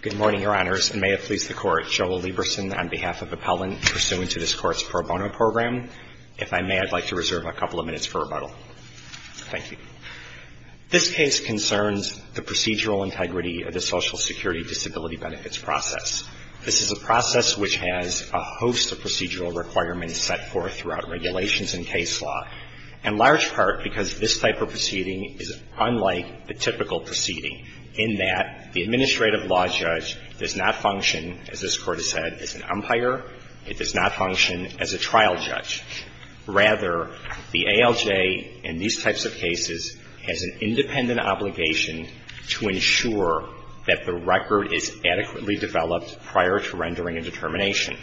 Good morning, Your Honors, and may it please the Court, Joel Lieberson on behalf of Appellant pursuant to this Court's pro bono program. If I may, I'd like to reserve a couple of minutes for rebuttal. Thank you. This case concerns the procedural integrity of the Social Security Disability Benefits process. This is a process which has a host of procedural requirements set forth throughout regulations and case law, in large part because this type of proceeding is unlike the typical proceeding in that the administrative law judge does not function, as this Court has said, as an umpire. It does not function as a trial judge. Rather, the ALJ, in these types of cases, has an independent obligation to ensure that the record is adequately developed prior to rendering a determination.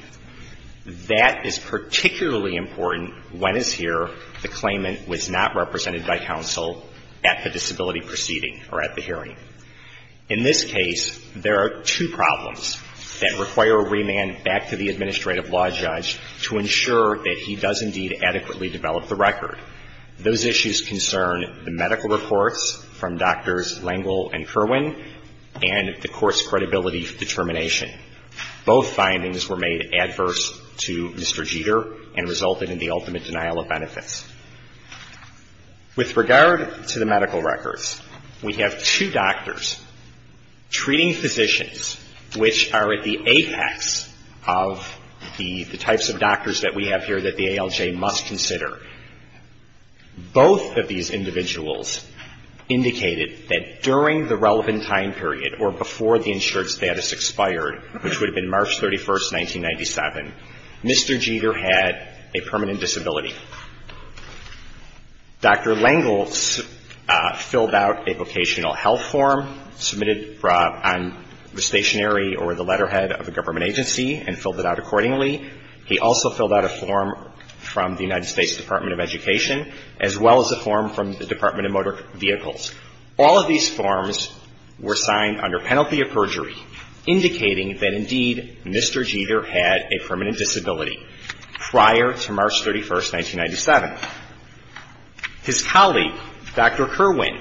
That is particularly important when, as here, the claimant was not represented by counsel at the disability proceeding or at the hearing. In this case, there are two problems that require a remand back to the administrative law judge to ensure that he does indeed adequately develop the record. Those issues concern the medical reports from Drs. Lengel and Kerwin and the Court's credibility determination. Both findings were made adverse to Mr. Jeter and resulted in the ultimate denial of benefits. With regard to the medical records, we have two doctors treating physicians, which are at the apex of the types of doctors that we have here that the ALJ must consider. Both of these individuals indicated that during the relevant time period or before the insured status expired, which would have been March 31, 1997, Mr. Jeter had a permanent disability. Dr. Lengel filled out a vocational health form submitted on the stationery or the letterhead of a government agency and filled it out accordingly. He also filled out a form from the United States Department of Education, as well as a form from the Department of Motor Vehicles. All of these forms were signed under penalty of perjury, indicating that indeed Mr. Jeter had a permanent disability prior to March 31, 1997. His colleague, Dr. Kerwin,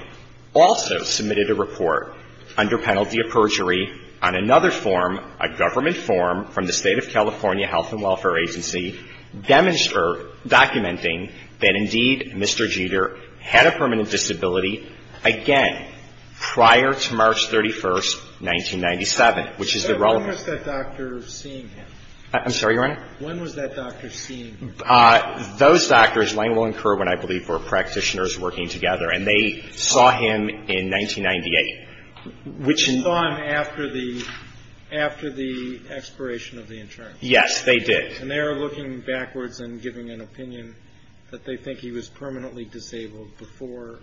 also submitted a report under penalty of perjury on another form, a government form from the State of California Health and Welfare Agency, documenting that indeed Mr. Jeter had a permanent disability again prior to March 31, 1997, which is the relevant ---- When was that doctor seeing him? I'm sorry, Your Honor? When was that doctor seeing him? Those doctors, Lengel and Kerwin, I believe, were practitioners working together. And they saw him in 1998, which in ---- They saw him after the ---- after the expiration of the insurance. Yes, they did. And they were looking backwards and giving an opinion that they think he was permanently disabled before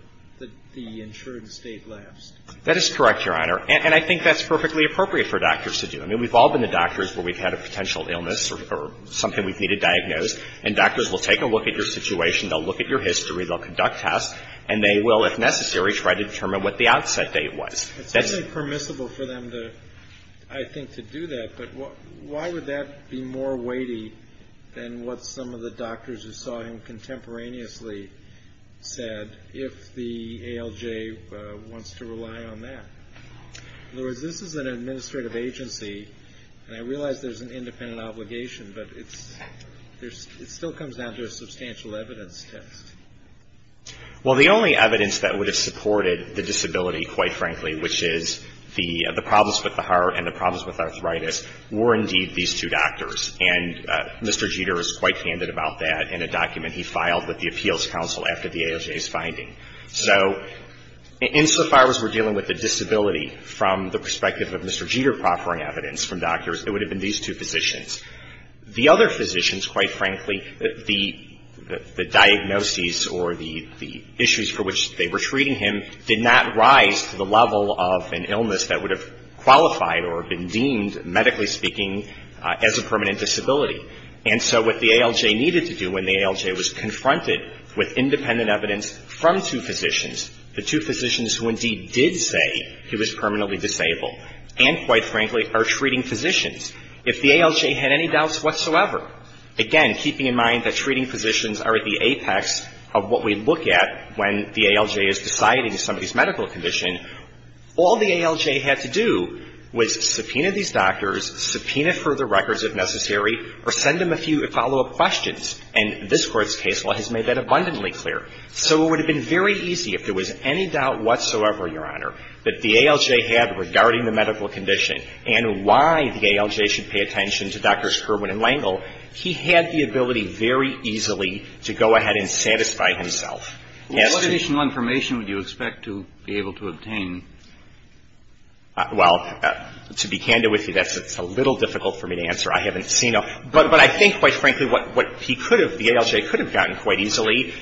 the insurance date lapsed. That is correct, Your Honor. And I think that's perfectly appropriate for doctors to do. I mean, we've all been to doctors where we've had a potential illness or something we've needed diagnosed. And doctors will take a look at your situation. They'll look at your history. They'll conduct tests. And they will, if necessary, try to determine what the outset date was. That's permissible for them, I think, to do that. But why would that be more weighty than what some of the doctors who saw him contemporaneously said if the ALJ wants to rely on that? In other words, this is an administrative agency, and I realize there's an independent obligation, but it still comes down to a substantial evidence test. Well, the only evidence that would have supported the disability, quite frankly, which is the problems with the heart and the problems with arthritis, were indeed these two doctors. And Mr. Jeter is quite candid about that in a document he filed with the Appeals Council after the ALJ's finding. So insofar as we're dealing with the disability from the perspective of Mr. Jeter proffering evidence from doctors, it would have been these two physicians. The other physicians, quite frankly, the diagnoses or the issues for which they were treating him did not rise to the level of an illness that would have qualified or been deemed, medically speaking, as a permanent disability. And so what the ALJ needed to do when the ALJ was confronted with independent evidence from two physicians, the two physicians who indeed did say he was permanently disabled, and, quite frankly, are treating physicians. If the ALJ had any doubts whatsoever, again, keeping in mind that treating physicians are at the apex of what we look at when the ALJ is deciding somebody's medical condition, all the ALJ had to do was subpoena these doctors, subpoena further records if necessary, or send them a few follow-up questions. And this Court's case law has made that abundantly clear. So it would have been very easy if there was any doubt whatsoever, Your Honor, that the ALJ should pay attention to Drs. Kerwin and Lengel. He had the ability very easily to go ahead and satisfy himself. He has to. Well, what additional information would you expect to be able to obtain? Well, to be candid with you, that's a little difficult for me to answer. I haven't seen them. But I think, quite frankly, what he could have, the ALJ could have gotten quite easily.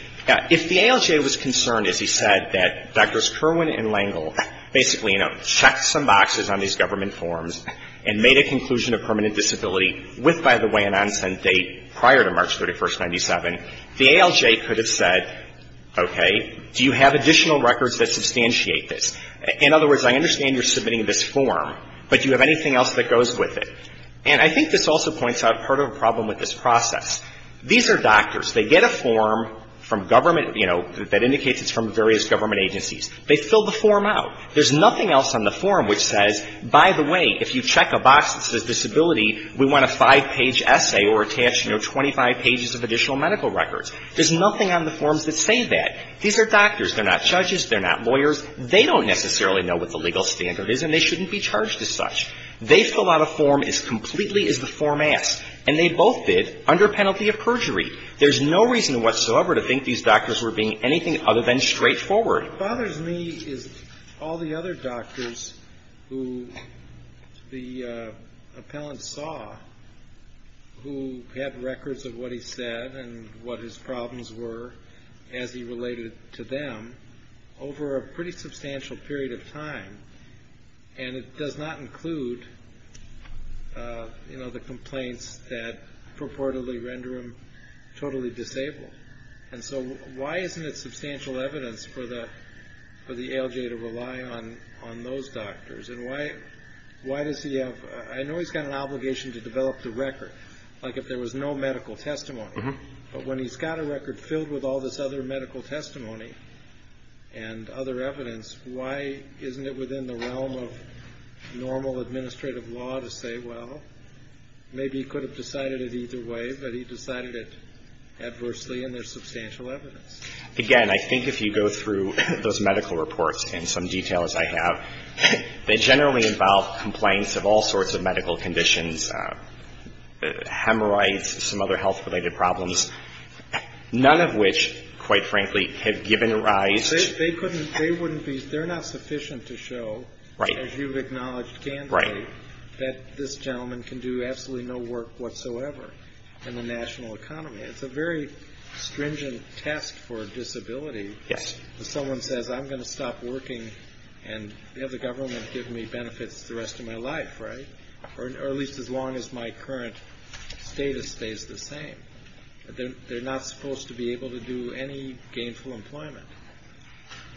If the ALJ was concerned, as he said, that Drs. Kerwin and Lengel basically, you know, checked some boxes on these government forms and made a conclusion of permanent disability with, by the way, an on-sent date prior to March 31, 1997, the ALJ could have said, okay, do you have additional records that substantiate this? In other words, I understand you're submitting this form, but do you have anything else that goes with it? And I think this also points out part of the problem with this process. These are doctors. They get a form from government, you know, that indicates it's from various government agencies. They fill the form out. There's nothing else on the form which says, by the way, if you check a box that says disability, we want a five-page essay or attach, you know, 25 pages of additional medical records. There's nothing on the forms that say that. These are doctors. They're not judges. They're not lawyers. They don't necessarily know what the legal standard is, and they shouldn't be charged as such. They fill out a form as completely as the form asks. And they both did under penalty of perjury. There's no reason whatsoever to think these doctors were being anything other than straightforward. What bothers me is all the other doctors who the appellant saw who had records of what he said and what his problems were as he related to them over a pretty substantial period of time, and it does not include, you know, the complaints that purportedly render him totally disabled. And so why isn't it substantial evidence for the ALJ to rely on those doctors? And why does he have to? I know he's got an obligation to develop the record, like if there was no medical testimony. But when he's got a record filled with all this other medical testimony and other evidence, why isn't it within the realm of normal administrative law to say, well, maybe he could have decided it either way, but he decided it adversely, and there's substantial evidence. Again, I think if you go through those medical reports and some details I have, they generally involve complaints of all sorts of medical conditions, hemorrhoids, some other health-related problems, none of which, quite frankly, have given rise to ---- They couldn't, they wouldn't be, they're not sufficient to show ---- Right. That this gentleman can do absolutely no work whatsoever in the national economy. It's a very stringent test for disability. Yes. If someone says, I'm going to stop working and have the government give me benefits the rest of my life, right? Or at least as long as my current status stays the same. They're not supposed to be able to do any gainful employment.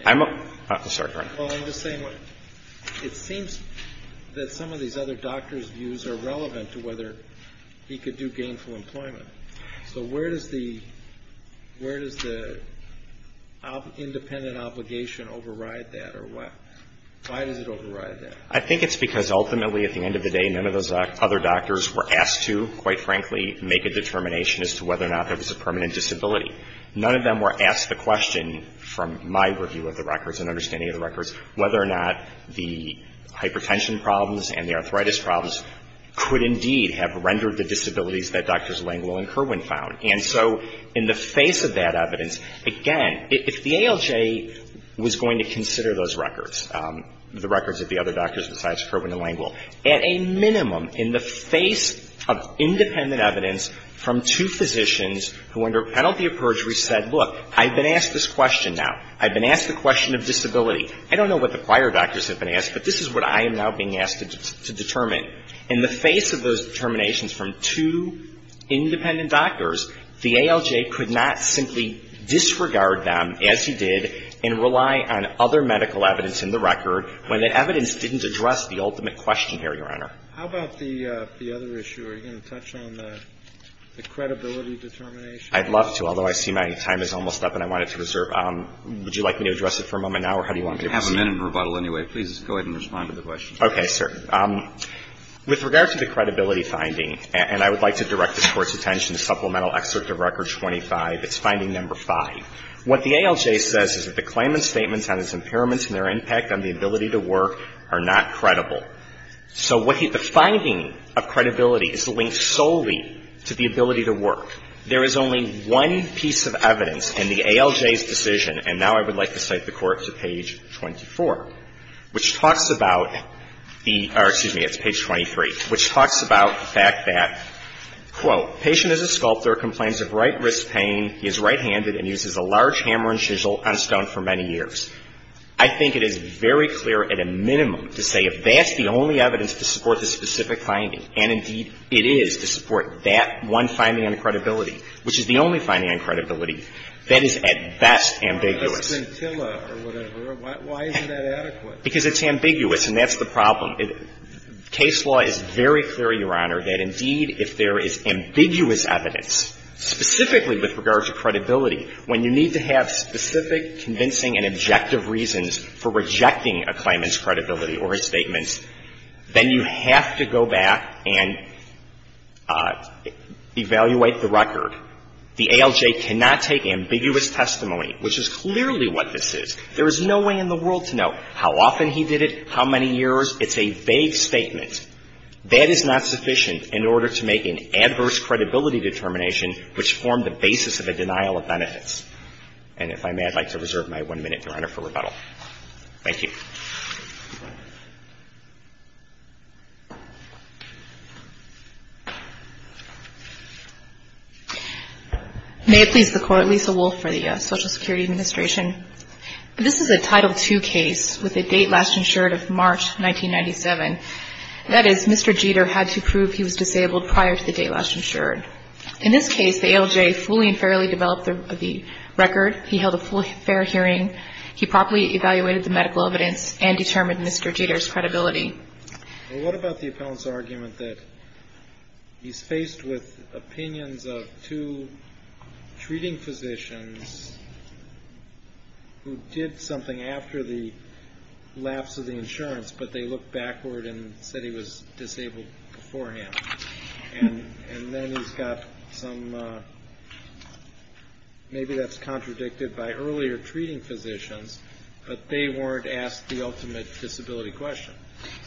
I'm ---- Sorry, go ahead. Well, I'm just saying, it seems that some of these other doctors' views are relevant to whether he could do gainful employment. So where does the independent obligation override that, or why does it override that? I think it's because ultimately, at the end of the day, none of those other doctors were asked to, quite frankly, make a determination as to whether or not there was a permanent disability. None of them were asked the question, from my review of the records and understanding of the records, whether or not the hypertension problems and the arthritis problems could indeed have rendered the disabilities that Drs. Langwell and Kirwan found. And so in the face of that evidence, again, if the ALJ was going to consider those records, the records of the other doctors besides Kirwan and Langwell, at a minimum, in the face of independent evidence from two physicians who under penalty of perjury said, look, I've been asked this question now. I've been asked the question of disability. I don't know what the prior doctors have been asked, but this is what I am now being asked to determine. In the face of those determinations from two independent doctors, the ALJ could not simply disregard them, as he did, and rely on other medical evidence in the record when that evidence didn't address the ultimate question here, Your Honor. How about the other issue? Are you going to touch on the credibility determination? I'd love to, although I see my time is almost up and I wanted to reserve. Would you like me to address it for a moment now, or how do you want me to proceed? You have a minute in rebuttal anyway. Please go ahead and respond to the question. Okay, sir. With regard to the credibility finding, and I would like to direct this Court's attention to Supplemental Excerpt of Record 25. It's finding number 5. What the ALJ says is that the claimant's statements on his impairments and their impact on the ability to work are not credible. So what he – the finding of credibility is linked solely to the ability to work. There is only one piece of evidence in the ALJ's decision, and now I would like to cite the Court to page 24, which talks about the – or excuse me, it's page 23, which talks about the fact that, quote, patient is a sculptor, complains of right wrist pain, he is right-handed, and uses a large hammer and chisel on stone for many years. I think it is very clear, at a minimum, to say if that's the only evidence to support this specific finding, and indeed, it is to support that one finding on credibility, which is the only finding on credibility, that is at best ambiguous. Why isn't that adequate? Because it's ambiguous, and that's the problem. Case law is very clear, Your Honor, that indeed, if there is ambiguous evidence, specifically with regards to credibility, when you need to have specific convincing and objective reasons for rejecting a claimant's credibility or his statements, then you have to go back and evaluate the record. The ALJ cannot take ambiguous testimony, which is clearly what this is. There is no way in the world to know how often he did it, how many years. It's a vague statement. That is not sufficient in order to make an adverse credibility determination, which formed the basis of a denial of benefits. And if I may, I'd like to reserve my one minute, Your Honor, for rebuttal. Thank you. May it please the Court, Lisa Wolf for the Social Security Administration. This is a Title II case with a date last insured of March 1997. That is, Mr. Jeter had to prove he was disabled prior to the date last insured. In this case, the ALJ fully and fairly developed the record. He held a full fair hearing. He properly evaluated the medical evidence and determined Mr. Jeter's credibility. Well, what about the appellant's argument that he's faced with opinions of two treating physicians who did something after the lapse of the insurance, but they looked backward and said he was disabled beforehand. And then he's got some, maybe that's contradicted by earlier treating physicians, but they weren't asked the ultimate disability question.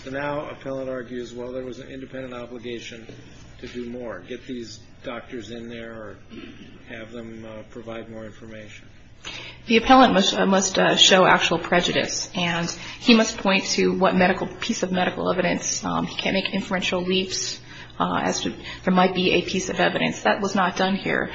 So now appellant argues, well, there was an independent obligation to do more, get these doctors in there or have them provide more information. The appellant must show actual prejudice, and he must point to what medical piece of medical evidence. He can't make inferential leaps, as there might be a piece of evidence. That was not done here.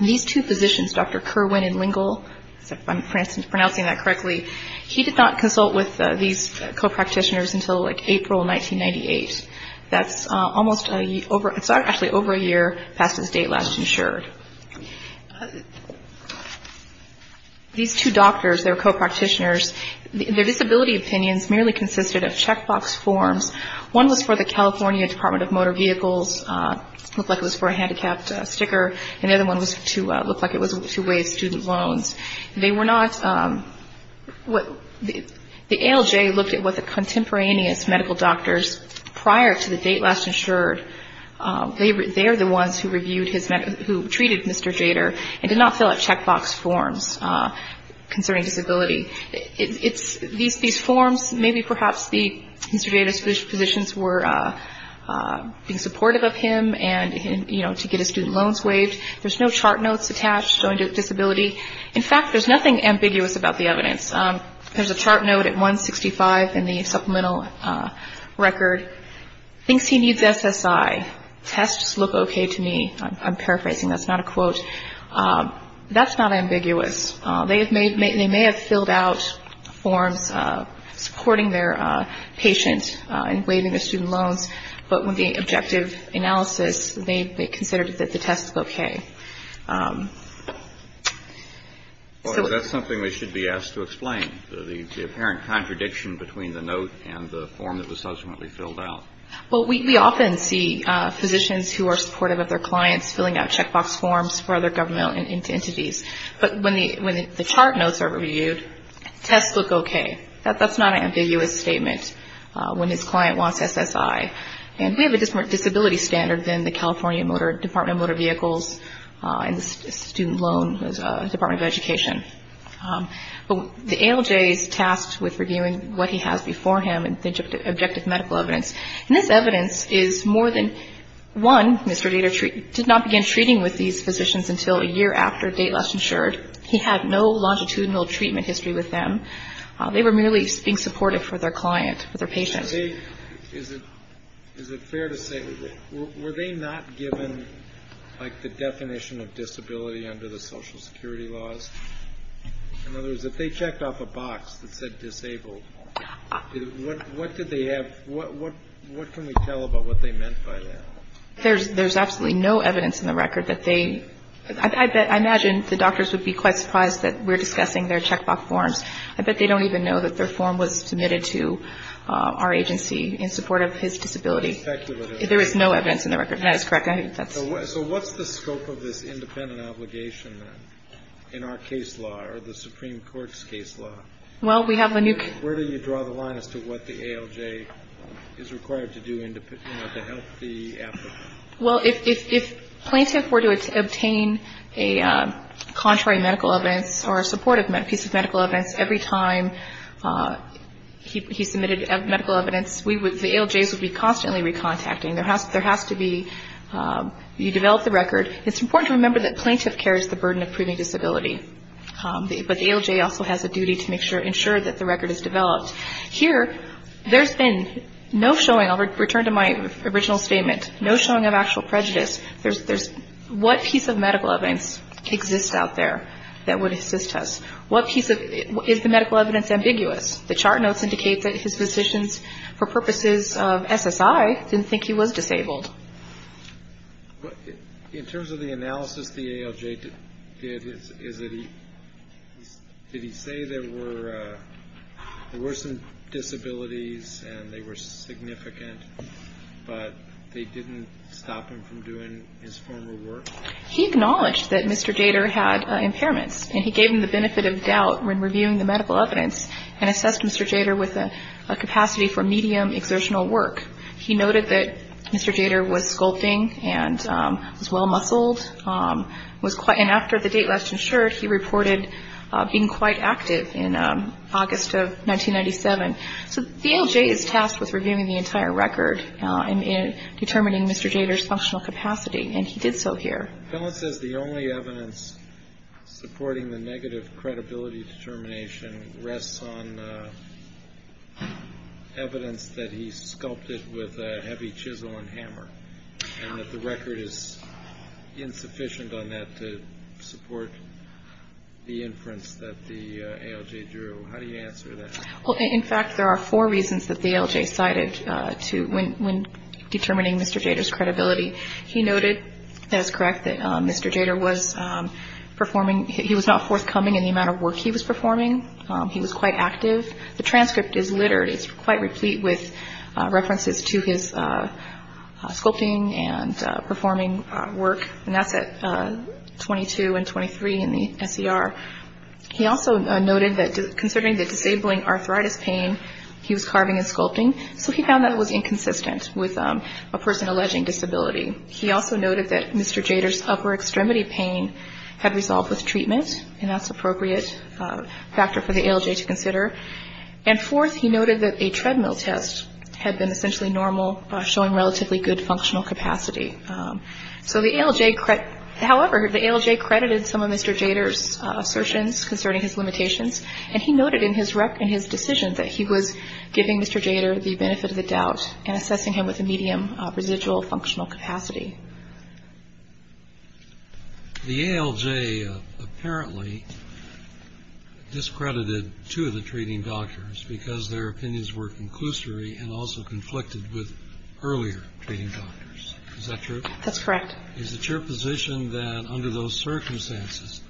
These two physicians, Dr. Kerwin and Lingle, if I'm pronouncing that correctly, he did not consult with these co-practitioners until, like, April 1998. That's almost a year over, actually over a year past his date last insured. These two doctors, their co-practitioners, their disability opinions merely consisted of checkbox forms. One was for the California Department of Motor Vehicles, looked like it was for a handicapped sticker, and the other one was to look like it was to waive student loans. They were not, the ALJ looked at what the contemporaneous medical doctors prior to the date last insured. They are the ones who treated Mr. Jader and did not fill out checkbox forms concerning disability. These forms, maybe perhaps Mr. Jader's physicians were being supportive of him and, you know, to get his student loans waived. There's no chart notes attached showing disability. In fact, there's nothing ambiguous about the evidence. There's a chart note at 165 in the supplemental record, thinks he needs SSI, tests look okay to me. I'm paraphrasing, that's not a quote. That's not ambiguous. They may have filled out forms supporting their patient and waiving their student loans, but with the objective analysis, they considered that the tests look okay. Well, that's something that should be asked to explain, the apparent contradiction between the note and the form that was subsequently filled out. Well, we often see physicians who are supportive of their clients filling out checkbox forms for other government entities, but when the chart notes are reviewed, tests look okay. That's not an ambiguous statement when his client wants SSI. And we have a different disability standard than the California Department of Motor Vehicles and the Student Loan Department of Education. But the ALJ is tasked with reviewing what he has before him and the objective medical evidence. And this evidence is more than one. Mr. Dader did not begin treating with these physicians until a year after Dateless insured. He had no longitudinal treatment history with them. They were merely being supportive for their client, for their patient. Is it fair to say, were they not given, like, the definition of disability under the Social Security laws? In other words, if they checked off a box that said disabled, what can we tell about what they meant by that? There's absolutely no evidence in the record that they — I imagine the doctors would be quite surprised that we're discussing their checkbox forms. I bet they don't even know that their form was submitted to our agency in support of his disability. There is no evidence in the record. That is correct. So what's the scope of this independent obligation, then, in our case law or the Supreme Court's case law? Well, we have — Where do you draw the line as to what the ALJ is required to do to help the applicant? Well, if plaintiff were to obtain a contrary medical evidence or a supportive piece of medical evidence every time he submitted medical evidence, the ALJs would be constantly recontacting. It's important to remember that plaintiff carries the burden of proving disability, but the ALJ also has a duty to make sure — ensure that the record is developed. Here, there's been no showing — I'll return to my original statement — no showing of actual prejudice. There's — what piece of medical evidence exists out there that would assist us? What piece of — is the medical evidence ambiguous? The chart notes indicate that his physicians, for purposes of SSI, didn't think he was disabled. In terms of the analysis the ALJ did, is that he — did he say there were — there were some disabilities and they were significant, but they didn't stop him from doing his former work? He acknowledged that Mr. Jader had impairments, and he gave him the benefit of doubt when reviewing the medical evidence and assessed Mr. Jader with a capacity for medium exertional work. He noted that Mr. Jader was sculpting and was well-muscled, was quite — and after the date last insured, he reported being quite active in August of 1997. So the ALJ is tasked with reviewing the entire record and determining Mr. Jader's functional capacity, and he did so here. The bill says the only evidence supporting the negative credibility determination rests on evidence that he sculpted with a heavy chisel and hammer, and that the record is insufficient on that to support the inference that the ALJ drew. How do you answer that? Well, in fact, there are four reasons that the ALJ cited when determining Mr. Jader's credibility. He noted, that is correct, that Mr. Jader was performing — he was not forthcoming in the amount of work he was performing. He was quite active. The transcript is littered. It's quite replete with references to his sculpting and performing work, and that's at 22 and 23 in the SER. He also noted that considering the disabling arthritis pain, he was carving and sculpting, so he found that was inconsistent with a person alleging disability. He also noted that Mr. Jader's upper extremity pain had resolved with treatment, and that's appropriate factor for the ALJ to consider. And fourth, he noted that a treadmill test had been essentially normal, showing relatively good functional capacity. So the ALJ — however, the ALJ credited some of Mr. Jader's assertions concerning his limitations, and he noted in his decision that he was giving Mr. Jader the benefit of the doubt and assessing him with a medium residual functional capacity. The ALJ apparently discredited two of the treating doctors because their opinions were conclusory and also conflicted with earlier treating doctors. Is that true? That's correct. Is it your position that under those circumstances,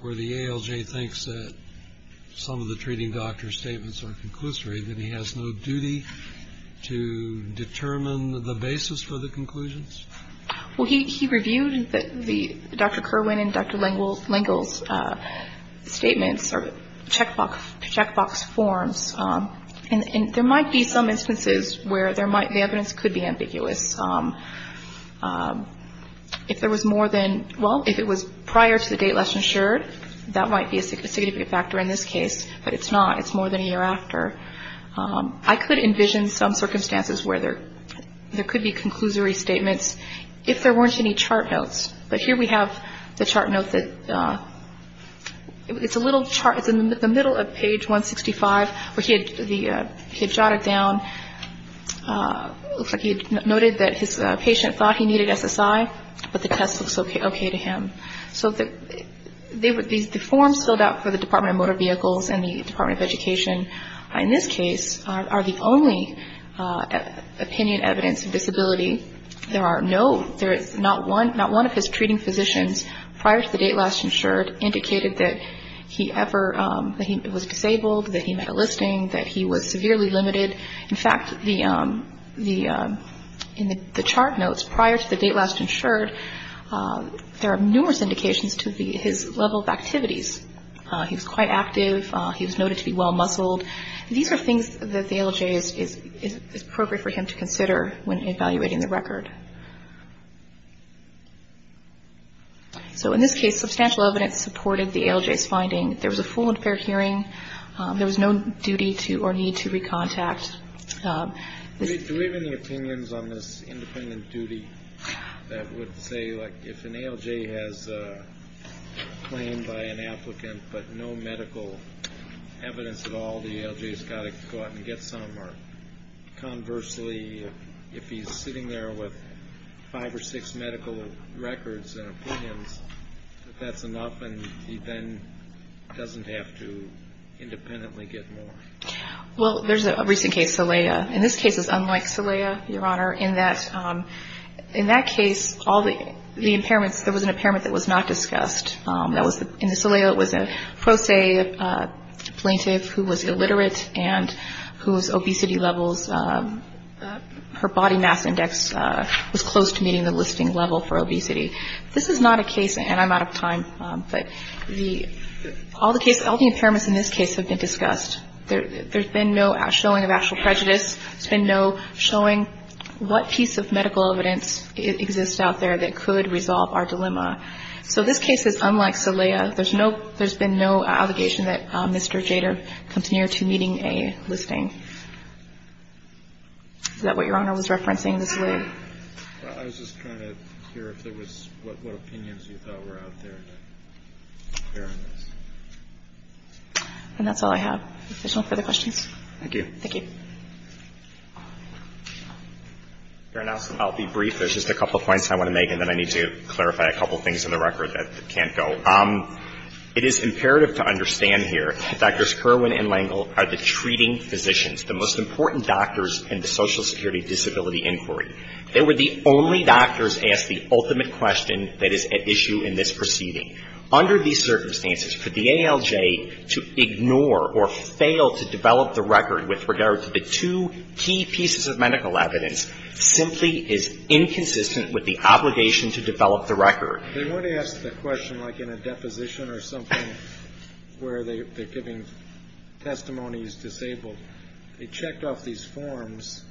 where the ALJ thinks that some of the treating doctor's statements are conclusory, that he has no duty to determine the basis for the conclusions? Well, he reviewed Dr. Kerwin and Dr. Lengel's statements or checkbox forms, and there might be some instances where the evidence could be ambiguous. If there was more than — well, if it was prior to the date less ensured, that might be a significant factor in this case, but it's not. I could envision some circumstances where there could be conclusory statements if there weren't any chart notes. But here we have the chart note that — it's a little chart. It's in the middle of page 165 where he had jotted down — it looks like he had noted that his patient thought he needed SSI, but the test looks okay to him. So the forms filled out for the Department of Motor Vehicles and the Department of Education in this case are the only opinion evidence of disability. There are no — not one of his treating physicians prior to the date last insured indicated that he ever — that he was disabled, that he met a listing, that he was severely limited. In fact, in the chart notes prior to the date last insured, he was quite active. He was noted to be well-muscled. These are things that the ALJ is appropriate for him to consider when evaluating the record. So in this case, substantial evidence supported the ALJ's finding. There was a full and fair hearing. There was no duty to or need to recontact. Do we have any opinions on this independent duty that would say, like, if an ALJ has a claim by an applicant but no medical evidence at all, the ALJ's got to go out and get some? Or conversely, if he's sitting there with five or six medical records and opinions, that that's enough and he then doesn't have to independently get more? Well, there's a recent case, Salaya. In this case, it's unlike Salaya, Your Honor, in that — in that case, all the impairments — there was an impairment that was not discussed. That was — in Salaya, it was a pro se plaintiff who was illiterate and whose obesity levels — her body mass index was close to meeting the listing level for obesity. This is not a case — and I'm out of time, but the — all the impairments in this case have been discussed. There's been no showing of actual prejudice. There's been no showing what piece of medical evidence exists out there that could resolve our dilemma. So this case is unlike Salaya. There's no — there's been no allegation that Mr. Jader comes near to meeting a listing. Is that what Your Honor was referencing, this lay? Well, I was just trying to hear if there was — what opinions you thought were out there to bear on this. And that's all I have. If there's no further questions. Thank you. Thank you. Your Honor, I'll be brief. There's just a couple of points I want to make, and then I need to clarify a couple things in the record that can't go. It is imperative to understand here that Drs. Kerwin and Lengel are the treating physicians, the most important doctors in the Social Security disability inquiry. They were the only doctors asked the ultimate question that is at issue in this proceeding. Under these circumstances, for the ALJ to ignore or fail to develop the record with regard to the two key pieces of medical evidence simply is inconsistent with the obligation to develop the record. They want to ask the question like in a deposition or something where they're giving testimonies disabled. They checked off these forms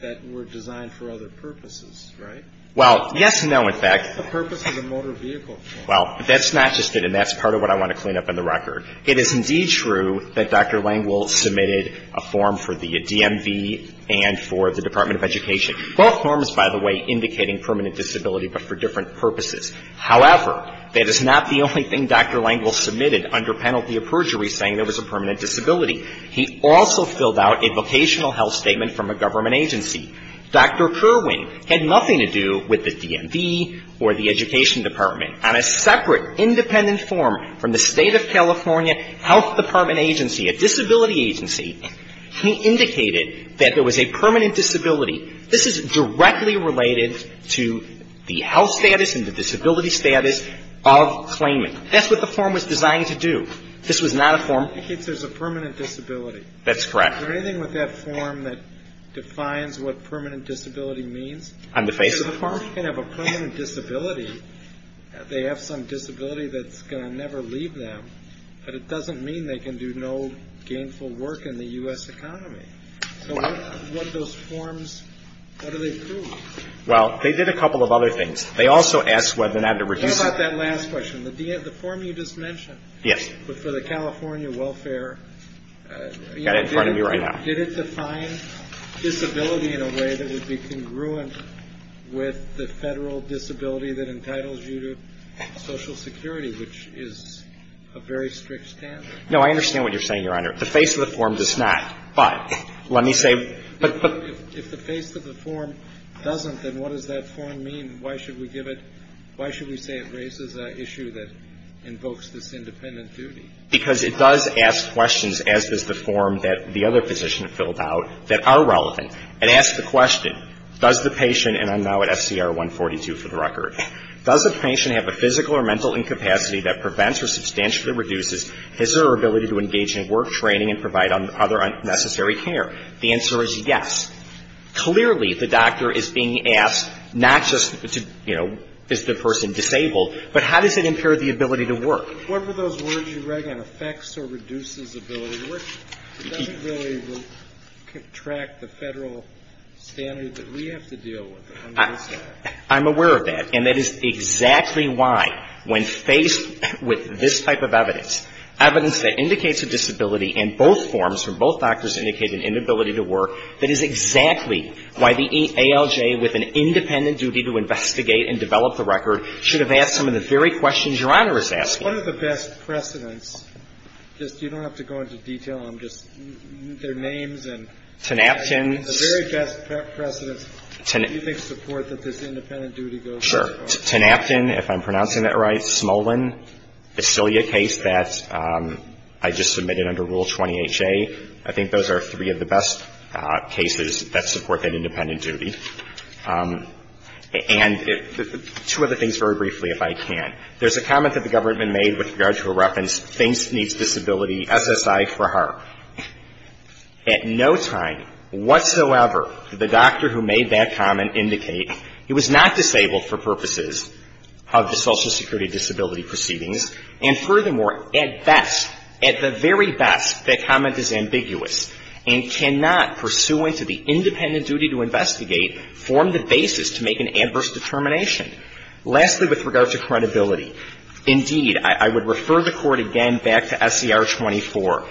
that were designed for other purposes, right? Well, yes and no, in fact. The purpose is a motor vehicle form. Well, that's not just it, and that's part of what I want to clean up in the record. It is indeed true that Dr. Lengel submitted a form for the DMV and for the Department of Education. Both forms, by the way, indicating permanent disability, but for different purposes. However, that is not the only thing Dr. Lengel submitted under penalty of perjury saying there was a permanent disability. He also filled out a vocational health statement from a government agency. Dr. Kerwin had nothing to do with the DMV or the Education Department. On a separate, independent form from the State of California Health Department agency, a disability agency, he indicated that there was a permanent disability. This is directly related to the health status and the disability status of claimant. That's what the form was designed to do. This was not a form. It indicates there's a permanent disability. That's correct. Is there anything with that form that defines what permanent disability means? On the face of the form? If a person can have a permanent disability, they have some disability that's going to never leave them, but it doesn't mean they can do no gainful work in the U.S. economy. So what are those forms, what do they prove? Well, they did a couple of other things. They also asked whether or not to reduce... What about that last question, the form you just mentioned? Yes. But for the California Welfare... Got it in front of me right now. Did it define disability in a way that would be congruent with the Federal disability that entitles you to Social Security, which is a very strict standard? No, I understand what you're saying, Your Honor. The face of the form does not, but let me say... But if the face of the form doesn't, then what does that form mean? Why should we give it, why should we say it raises an issue that invokes this independent duty? Because it does ask questions, as does the form that the other physician filled out, that are relevant. It asks the question, does the patient, and I'm now at SCR 142 for the record, does the patient have a physical or mental incapacity that prevents or substantially reduces his or her ability to engage in work training and provide other unnecessary care? The answer is yes. Clearly, the doctor is being asked not just to, you know, is the person disabled, but how does it impair the ability to work? What were those words you were writing, affects or reduces ability? It doesn't really track the Federal standard that we have to deal with on this side. I'm aware of that, and that is exactly why when faced with this type of evidence, evidence that indicates a disability in both forms, where both doctors indicate an inability to work, that is exactly why the ALJ, with an independent duty to investigate and develop the record, should have asked some of the very questions Your Honor is asking. One of the best precedents, just you don't have to go into detail, just their names and the very best precedents do you think support that this independent duty goes to? Sure. Tenapton, if I'm pronouncing that right. Smolin. Basilia case that I just submitted under Rule 20HA. I think those are three of the best cases that support that independent duty. And two other things very briefly, if I can. There's a comment that the government made with regard to a reference, thinks needs disability SSI for her. At no time whatsoever did the doctor who made that comment indicate he was not disabled for purposes of the Social Security disability proceedings. And furthermore, at best, at the very best, that comment is ambiguous and cannot, pursuant to the independent duty to investigate, form the basis to make an adverse determination. Lastly, with regard to credibility. Indeed, I would refer the Court again back to SCR 24,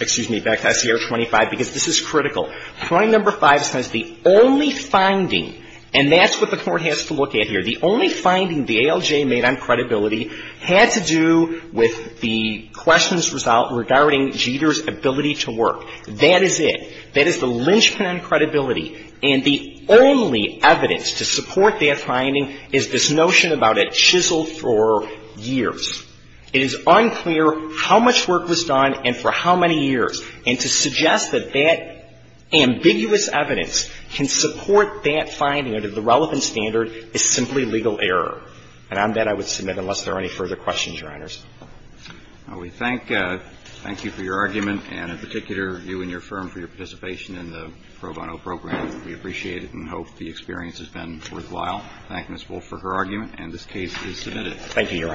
excuse me, back to SCR 25, because this is critical. Point number five says the only finding, and that's what the Court has to look at here, the only finding the ALJ made on credibility had to do with the questions regarding Jeter's ability to work. That is it. That is the linchpin on credibility. And the only evidence to support that finding is this notion about a chisel for years. It is unclear how much work was done and for how many years. And to suggest that that ambiguous evidence can support that finding under the relevant standard is simply legal error. And on that, I would submit, unless there are any further questions, Your Honors. We thank you for your argument, and in particular, you and your firm for your participation in the Pro Bono program. We appreciate it and hope the experience has been worthwhile. Thank Ms. Wolf for her argument, and this case is submitted. Thank you, Your Honor.